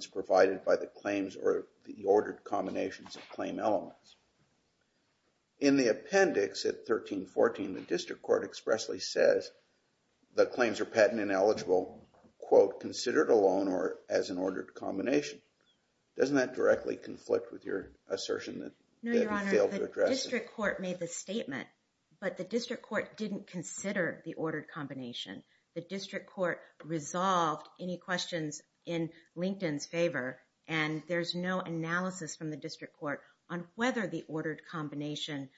https://www.linkedin.com https://www.linkedin.com https://www.linkedin.com In the appendix at 1314, the district court expressly says the claims are patent ineligible quote, considered a loan or as an ordered combination. Doesn't that directly conflict with your assertion that you failed to address it? No, Your Honor. The district court made the statement, but the district court didn't consider the ordered combination. And there's no analysis from the district court on whether the ordered combination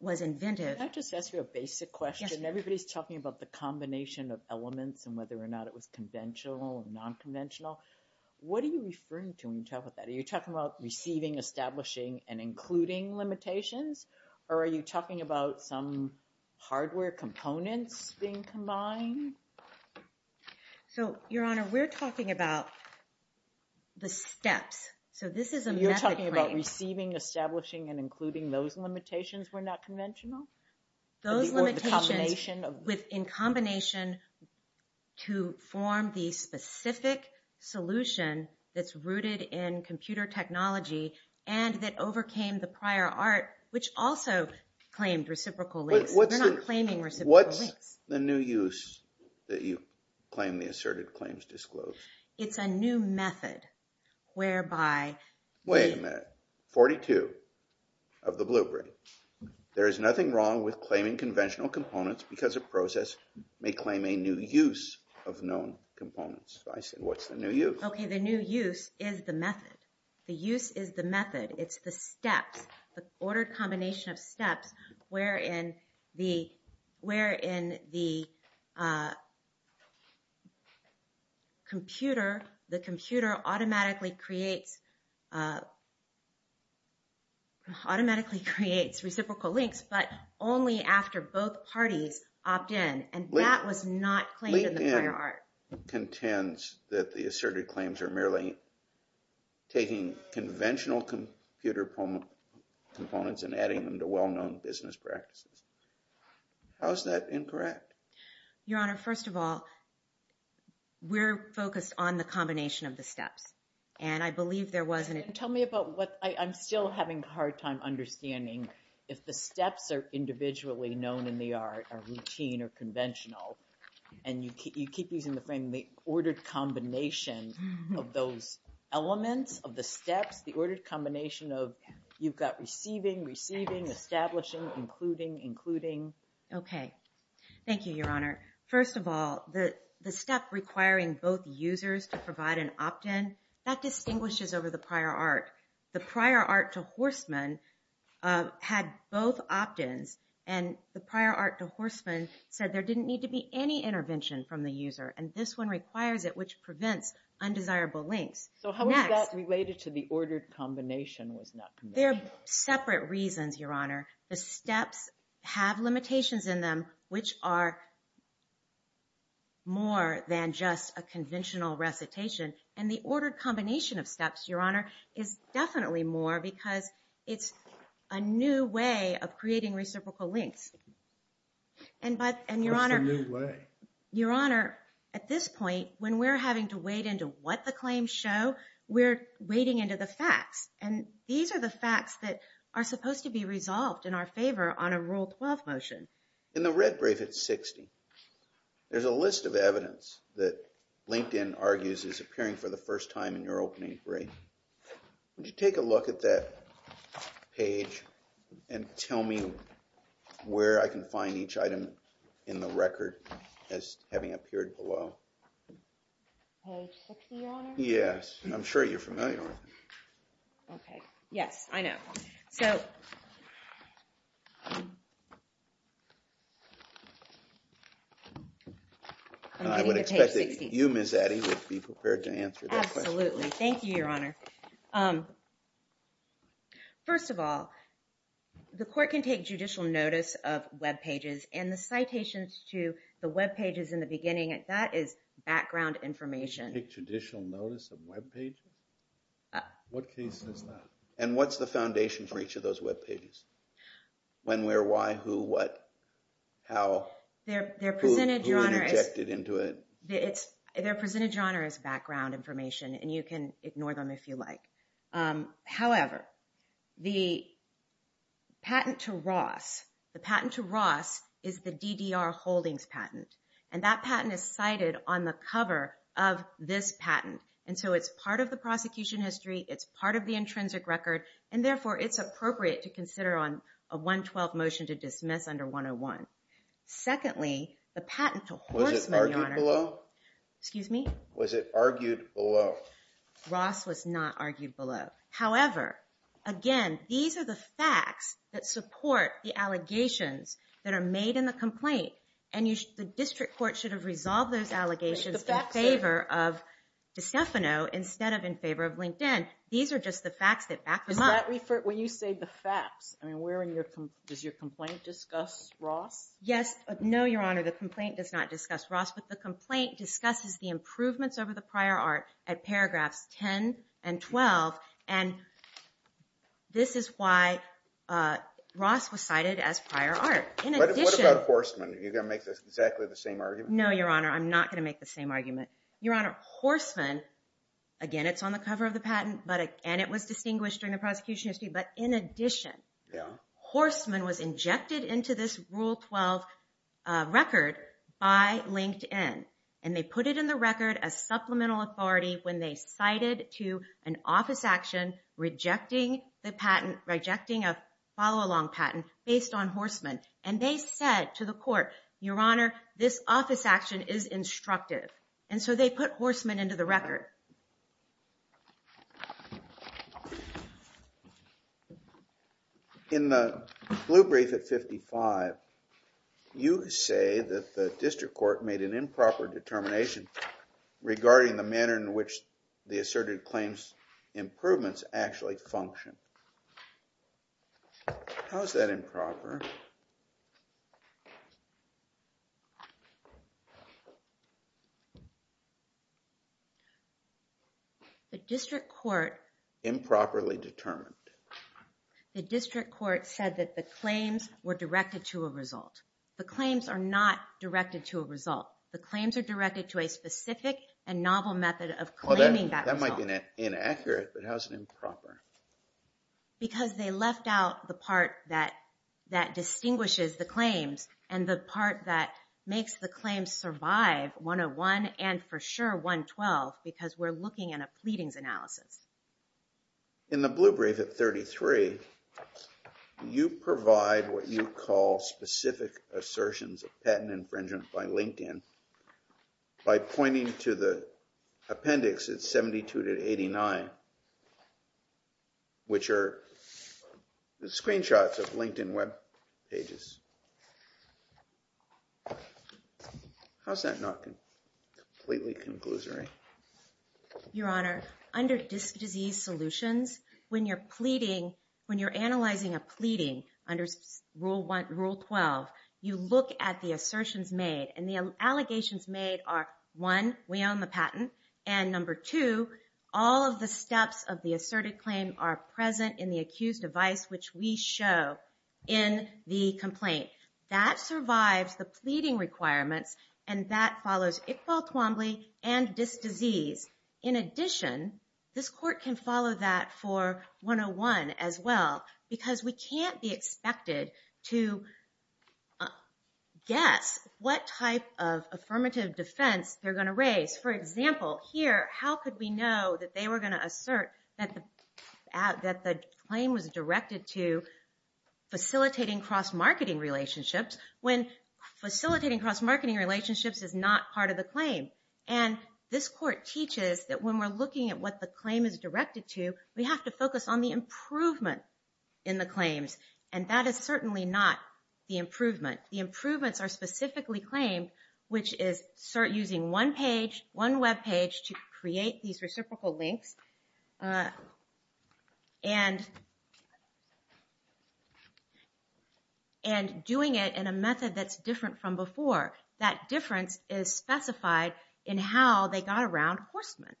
was invented. Can I just ask you a basic question? Yes. Everybody's talking about the combination of elements and whether or not it was conventional or non-conventional. What are you referring to when you talk about that? Are you talking about receiving, establishing, and including limitations? Or are you talking about some hardware components being combined? So, Your Honor, we're talking about the steps. So this is a method claim. You're talking about receiving, establishing, and including those limitations were not conventional? Those limitations in combination to form the specific solution that's rooted in computer technology and that overcame the prior art, which also claimed reciprocal links. They're not claiming reciprocal links. What's the new use that you claim the asserted claims disclosed? It's a new method whereby... Wait a minute. 42 of the blueprint. There is nothing wrong with claiming conventional components because a process may claim a new use of known components. I said, what's the new use? Okay, the new use is the method. The use is the method. It's the steps, the ordered combination of steps wherein the computer automatically creates reciprocal links, but only after both parties opt in. And that was not claimed in the prior art. The prior art contends that the asserted claims are merely taking conventional computer components and adding them to well-known business practices. How is that incorrect? Your Honor, first of all, we're focused on the combination of the steps. And I believe there was an... Tell me about what... I'm still having a hard time understanding if the steps are individually known in the art, or routine, or conventional. And you keep using the frame, the ordered combination of those elements, of the steps, the ordered combination of you've got receiving, receiving, establishing, including, including. Okay. Thank you, Your Honor. First of all, the step requiring both users to provide an opt-in, that distinguishes over the prior art. The prior art to Horstman had both opt-ins. And the prior art to Horstman said there didn't need to be any intervention from the user. And this one requires it, which prevents undesirable links. So how is that related to the ordered combination was not... They're separate reasons, Your Honor. The steps have limitations in them, which are more than just a conventional recitation. And the ordered combination of steps, Your Honor, is definitely more, because it's a new way of creating reciprocal links. And Your Honor... What's the new way? Your Honor, at this point, when we're having to wade into what the claims show, we're wading into the facts. And these are the facts that are supposed to be resolved in our favor on a Rule 12 motion. In the red brief, it's 60. There's a list of evidence that LinkedIn argues is appearing for the first time in your opening brief. Would you take a look at that page and tell me where I can find each item in the record as having appeared below? Page 60, Your Honor? Yes. I'm sure you're familiar with it. Okay. Yes, I know. So... I would expect that you, Ms. Addy, would be prepared to answer that question. Absolutely. Thank you, Your Honor. First of all, the court can take judicial notice of webpages, and the citations to the webpages in the beginning, that is background information. Take judicial notice of webpages? What case is that? And what's the foundation for each of those webpages? When, where, why, who, what, how, who interjected into it? They're presented, Your Honor, as background information, and you can ignore them if you like. However, the patent to Ross, the patent to Ross is the DDR Holdings patent, and that patent is cited on the cover of this patent. And so it's part of the prosecution history, it's part of the intrinsic record, and therefore it's appropriate to consider on a 112 motion to dismiss under 101. Secondly, the patent to Horstman, Your Honor... Was it argued below? Excuse me? Was it argued below? Ross was not argued below. However, again, these are the facts that support the allegations that are made in the complaint, and the district court should have resolved those allegations in favor of DiStefano instead of in favor of LinkedIn. These are just the facts that back them up. When you say the facts, does your complaint discuss Ross? Yes, no, Your Honor, the complaint does not discuss Ross, but the complaint discusses the improvements over the prior art at paragraphs 10 and 12, and this is why Ross was cited as prior art. What about Horstman? Are you going to make exactly the same argument? No, Your Honor, I'm not going to make the same argument. Your Honor, Horstman, again, it's on the cover of the patent, and it was distinguished during the prosecution history, but in addition, Horstman was injected into this Rule 12 record by LinkedIn, and they put it in the record as supplemental authority when they cited to an office action rejecting the patent, rejecting a follow-along patent based on Horstman, and they said to the court, Your Honor, this office action is instructive, and so they put Horstman into the record. In the blue brief at 55, you say that the district court made an improper determination regarding the manner in which the asserted claims improvements actually function. How is that improper? Improperly determined. The district court said that the claims were directed to a result. The claims are not directed to a result. The claims are directed to a specific and novel method of claiming that result. That might be inaccurate, but how is it improper? Because they left out the part that distinguishes the claims and the part that makes the claims survive 101 and for sure 112 because we're looking at a pleadings analysis. In the blue brief at 33, you provide what you call specific assertions of patent infringement by LinkedIn by pointing to the appendix at 72 to 89, which are screenshots of LinkedIn web pages. How is that not completely conclusory? Your Honor, under dis-disease solutions, when you're analyzing a pleading under Rule 12, you look at the assertions made, and the allegations made are, one, we own the patent, and number two, all of the steps of the asserted claim are present in the accused device, which we show in the complaint. That survives the pleading requirements, and that follows Iqbal Twombly and dis-disease. In addition, this court can follow that for 101 as well because we can't be expected to guess what type of affirmative defense they're going to raise. For example, here, how could we know that they were going to assert that the claim was directed to facilitating cross-marketing relationships when facilitating cross-marketing relationships is not part of the claim? And this court teaches that when we're looking at what the claim is directed to, we have to focus on the improvement in the claims, and that is certainly not the improvement. The improvements are specifically claimed, which is using one page, one web page, to create these reciprocal links, and doing it in a method that's different from before. That difference is specified in how they got around Horstman.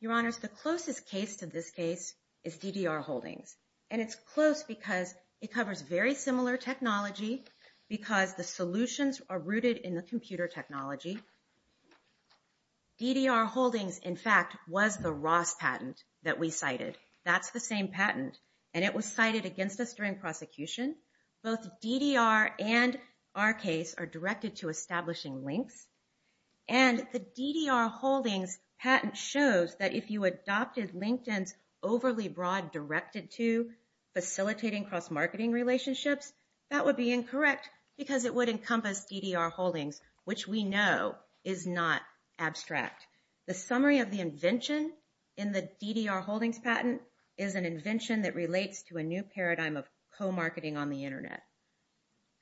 Your Honors, the closest case to this case is DDR Holdings, and it's close because it covers very similar technology because the solutions are rooted in the computer technology. DDR Holdings, in fact, was the Ross patent that we cited. That's the same patent, and it was cited against us during prosecution. Both DDR and our case are directed to establishing links, and the DDR Holdings patent shows that if you adopted LinkedIn's claim to facilitating cross-marketing relationships, that would be incorrect because it would encompass DDR Holdings, which we know is not abstract. The summary of the invention in the DDR Holdings patent is an invention that relates to a new paradigm of co-marketing on the Internet.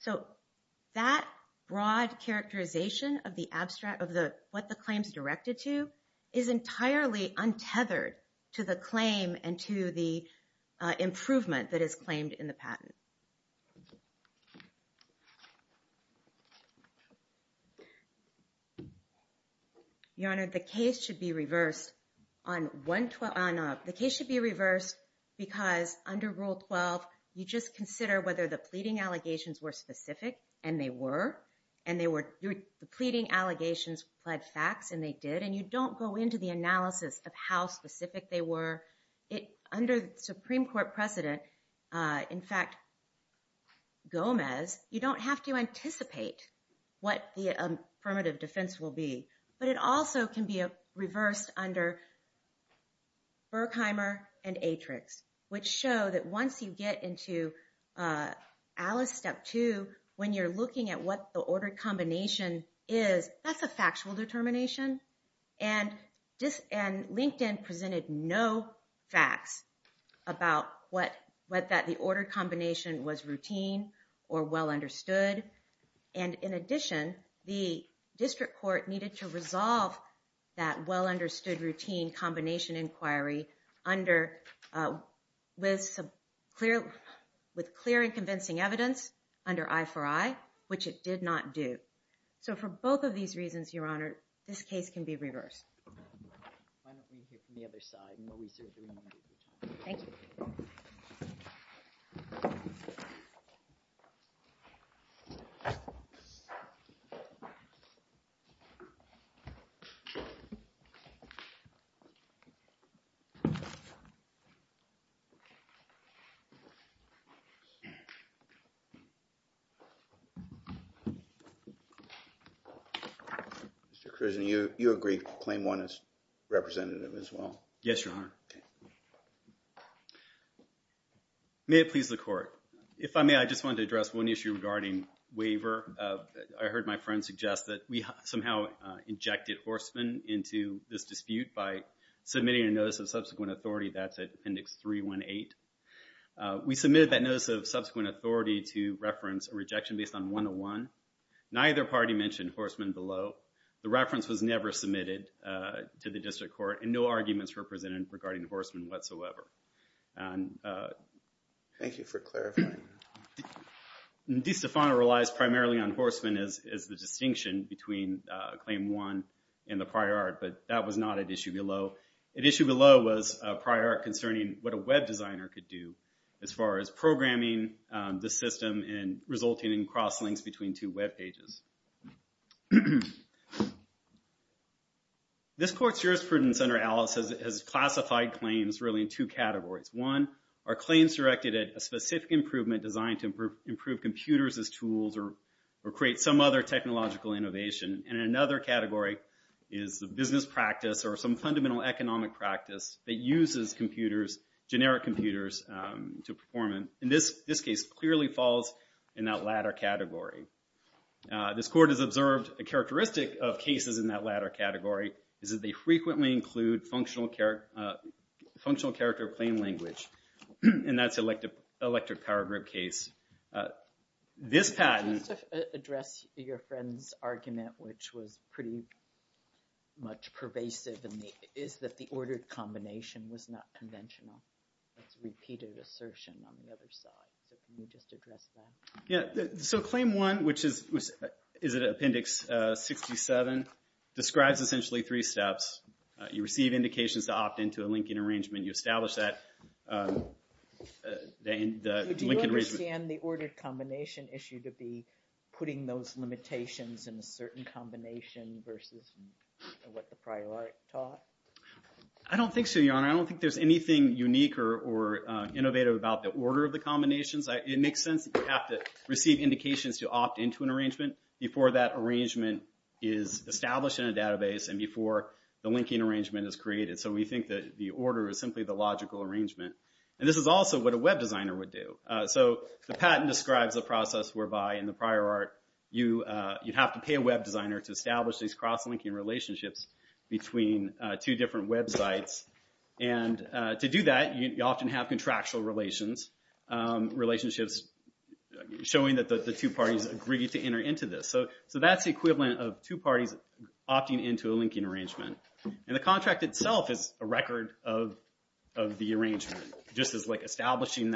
So that broad characterization of what the claim is directed to is entirely untethered to the claim and to the improvement that is claimed in the patent. Your Honor, the case should be reversed because under Rule 12, you just consider whether the pleading allegations were specific, and they were. The pleading allegations pled facts, and they did, and you don't go into the analysis of how specific they were. Under the Supreme Court precedent, in fact, Gomez, you don't have to anticipate what the affirmative defense will be, but it also can be reversed under Berkheimer and Atrix, which show that once you get into Alice Step 2, when you're looking at what the order combination is, that's a factual determination. And LinkedIn presented no facts about whether the order combination was routine or well-understood. And in addition, the District Court needed to resolve that well-understood routine combination inquiry with clear and convincing evidence under I4I, which it did not do. So for both of these reasons, Your Honor, this case can be reversed. Why don't we hear from the other side and what we certainly need to determine. Thank you. Mr. Krusen, you agree Claim 1 is representative as well? Yes, Your Honor. May it please the Court. If I may, I just want to address one issue regarding waiver. I heard my friend suggest that we somehow injected Horstman into this dispute by submitting a Notice of Subsequent Authority. That's at Appendix 318. We submitted that Notice of Subsequent Authority to reference a rejection based on 101. Neither party mentioned Horstman below. The reference was never submitted to the District Court and no arguments were presented regarding Horstman whatsoever. Thank you for clarifying. De Stefano relies primarily on Horstman as the distinction between Claim 1 and the prior art, but that was not at issue below. At issue below was a prior art concerning what a web designer could do as far as programming the system and resulting in cross-links between two web pages. This Court's jurisprudence under Alice has classified claims really in two categories. One, are claims directed at a specific improvement designed to improve computers as tools or create some other technological innovation. And another category is the business practice or some fundamental economic practice that uses computers, generic computers, to perform it. And this case clearly falls in that latter category. This Court has observed a characteristic of cases in that latter category is that they frequently include functional character claim language. And that's electric power grip case. This patent... Just to address your friend's argument, which was pretty much pervasive, is that the ordered combination was not conventional. That's repeated assertion on the other side. So can you just address that? Yeah, so Claim 1, which is in Appendix 67, describes essentially three steps. You establish that the linking arrangement... Do you understand the ordered combination issue to be putting those limitations in a certain combination versus what the prior art taught? I don't think so, Your Honor. I don't think there's anything unique or innovative about the order of the combinations. It makes sense that you have to receive indications to opt into an arrangement before that arrangement is established in a database and before the linking arrangement is created. So we think that the order is simply the logical arrangement. And this is also what a web designer would do. So the patent describes a process whereby in the prior art you'd have to pay a web designer to establish these cross-linking relationships between two different websites. And to do that, you often have contractual relations, relationships showing that the two parties agree to enter into this. So that's the equivalent of two parties opting into a linking arrangement. And the contract itself is a record of the arrangement, just as establishing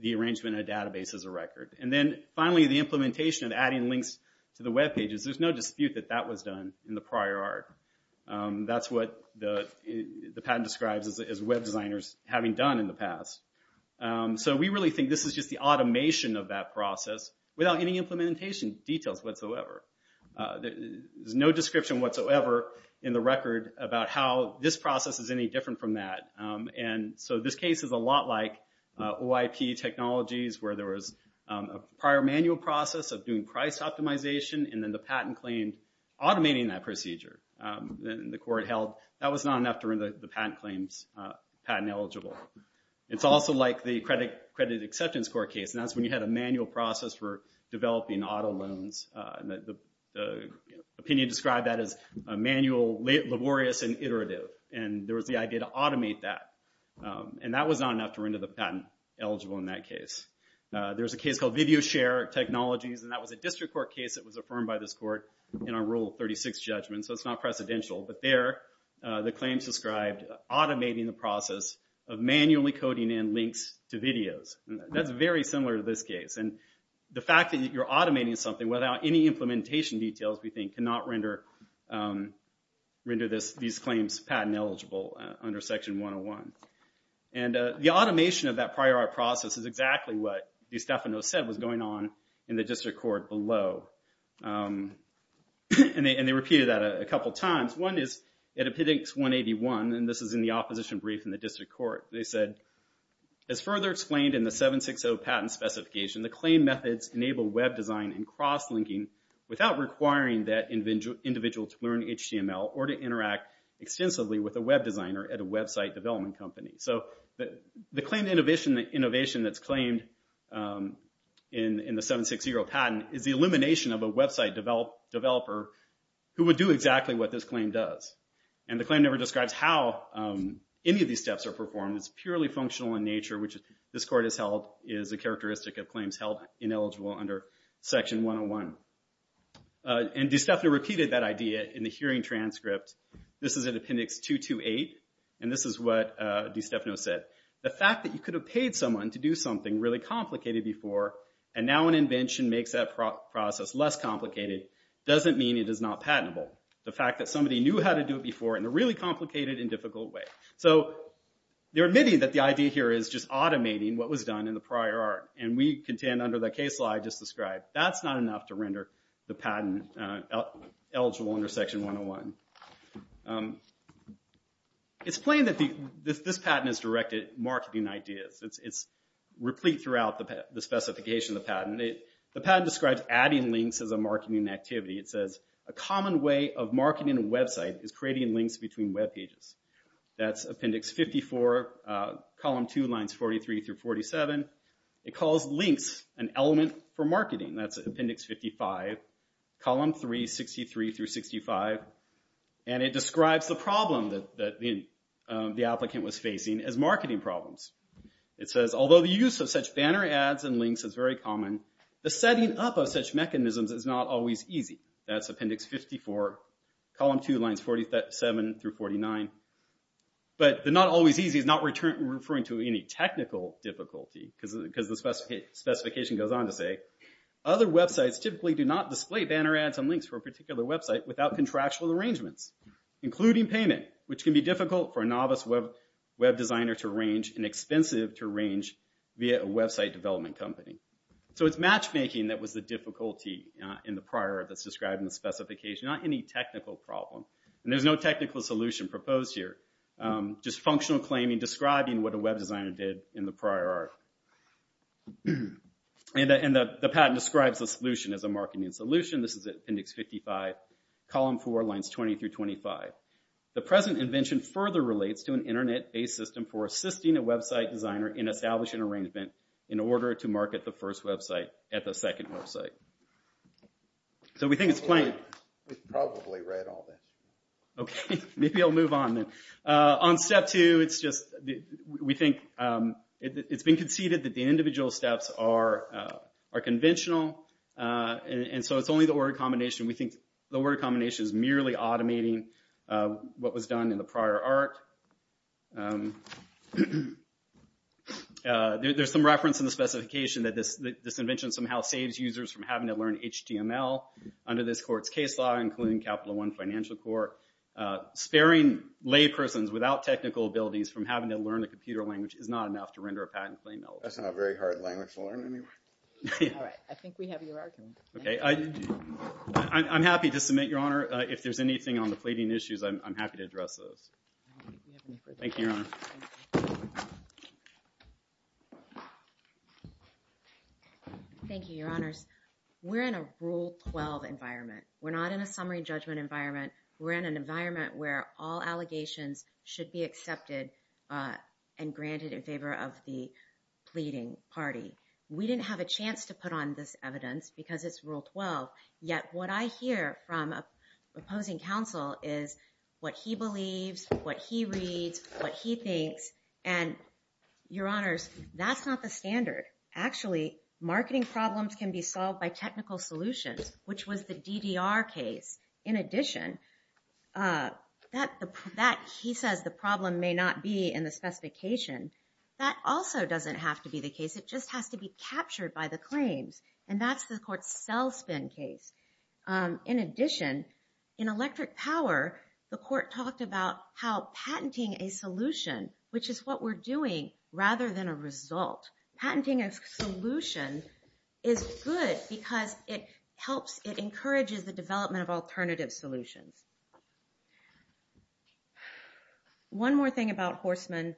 the arrangement in a database is a record. And then finally, the implementation of adding links to the webpages. There's no dispute that that was done in the prior art. That's what the patent describes as web designers having done in the past. So we really think this is just the automation of that process without any implementation details whatsoever. There's no description whatsoever in the record about how this process is any different from that. And so this case is a lot like OIP technologies where there was a prior manual process of doing price optimization and then the patent claimed automating that procedure. The court held that was not enough to render the patent claims patent eligible. It's also like the credit acceptance court case, and that's when you had a manual process for developing auto loans. And the opinion described that as manual, laborious, and iterative. And there was the idea to automate that. And that was not enough to render the patent eligible in that case. There's a case called VideoShare Technologies, and that was a district court case that was affirmed by this court in our Rule 36 judgment, so it's not precedential. But there, the claims described automating the process of manually coding in links to videos. That's very similar to this case. And the fact that you're automating something without any implementation details, we think, cannot render these claims patent eligible under Section 101. And the automation of that prior art process is exactly what DiStefano said was going on in the district court below. And they repeated that a couple times. One is in Epidemics 181, and this is in the opposition brief in the district court. They said, as further explained in the 760 patent specification, the claim methods enable web design and cross-linking without requiring that individual to learn HTML or to interact extensively with a web designer at a website development company. So the claim innovation that's claimed in the 760 patent is the elimination of a website developer who would do exactly what this claim does. And the claim never describes how any of these steps are performed. It's purely functional in nature, which this court has held is a characteristic of claims held ineligible under Section 101. And DiStefano repeated that idea in the hearing transcript. This is in Appendix 228, and this is what DiStefano said. The fact that you could have paid someone to do something really complicated before, and now an invention makes that process less complicated, doesn't mean it is not patentable. The fact that somebody knew how to do it before in a really complicated and difficult way. So they're admitting that the idea here is just automating what was done in the prior art. And we contend under the case law I just described, that's not enough to render the patent eligible under Section 101. It's plain that this patent is directed at marketing ideas. It's replete throughout the specification of the patent. The patent describes adding links as a marketing activity. It says, a common way of marketing a website is creating links between web pages. That's Appendix 54, Column 2, Lines 43 through 47. It calls links an element for marketing. That's Appendix 55, Column 3, 63 through 65. And it describes the problem that the applicant was facing as marketing problems. It says, although the use of such banner ads and links is very common, the setting up of such mechanisms is not always easy. That's Appendix 54, Column 2, Lines 47 through 49. But the not always easy is not referring to any technical difficulty, because the specification goes on to say, other websites typically do not display banner ads and links for a particular website without contractual arrangements, including payment, which can be difficult for a novice web designer to arrange and expensive to arrange via a website development company. So it's matchmaking that was the difficulty in the prior art describing the specification, not any technical problem. And there's no technical solution proposed here, just functional claiming, describing what a web designer did in the prior art. And the patent describes the solution as a marketing solution. This is Appendix 55, Column 4, Lines 20 through 25. The present invention further relates to an internet-based system for assisting a website designer in establishing an arrangement in order to market the first website at the second website. So we think it's plain. We've probably read all this. Okay, maybe I'll move on then. On step two, we think it's been conceded that the individual steps are conventional, and so it's only the word combination. We think the word combination is merely automating what was done in the prior art. There's some reference in the specification that this invention somehow saves users from having to learn HTML under this court's case law, including Capital One Financial Court. Sparing laypersons without technical abilities from having to learn a computer language is not enough to render a patent claim eligible. That's not a very hard language to learn anyway. All right, I think we have your argument. Okay, I'm happy to submit, Your Honor. If there's anything on the pleading issues, I'm happy to address those. Thank you, Your Honor. Thank you, Your Honors. We're in a Rule 12 environment. We're not in a summary judgment environment. We're in an environment where all allegations should be accepted and granted in favor of the pleading party. We didn't have a chance to put on this evidence because it's Rule 12, yet what I hear from a opposing counsel is what he believes, what he reads, what he thinks, and, Your Honors, that's not the standard. Actually, marketing problems can be solved by technical solutions, which was the DDR case. In addition, he says the problem may not be in the specification. That also doesn't have to be the case. It just has to be captured by the claims, and that's the court's sell-spin case. In addition, in Electric Power, the court talked about how patenting a solution, which is what we're doing, rather than a result, patenting a solution is good because it encourages the development of alternative solutions. One more thing about Horstman.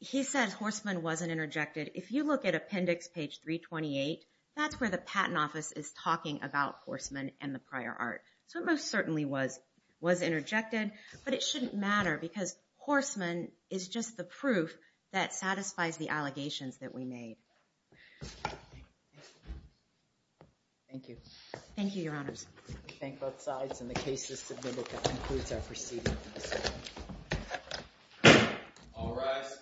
He says Horstman wasn't interjected. If you look at Appendix page 328, that's where the Patent Office is talking about Horstman and the prior art, so it most certainly was interjected, but it shouldn't matter because Horstman is just the proof that satisfies the allegations that we made. Thank you. Thank you, Your Honors. We thank both sides, and the case is submitted. That concludes our proceedings. All rise.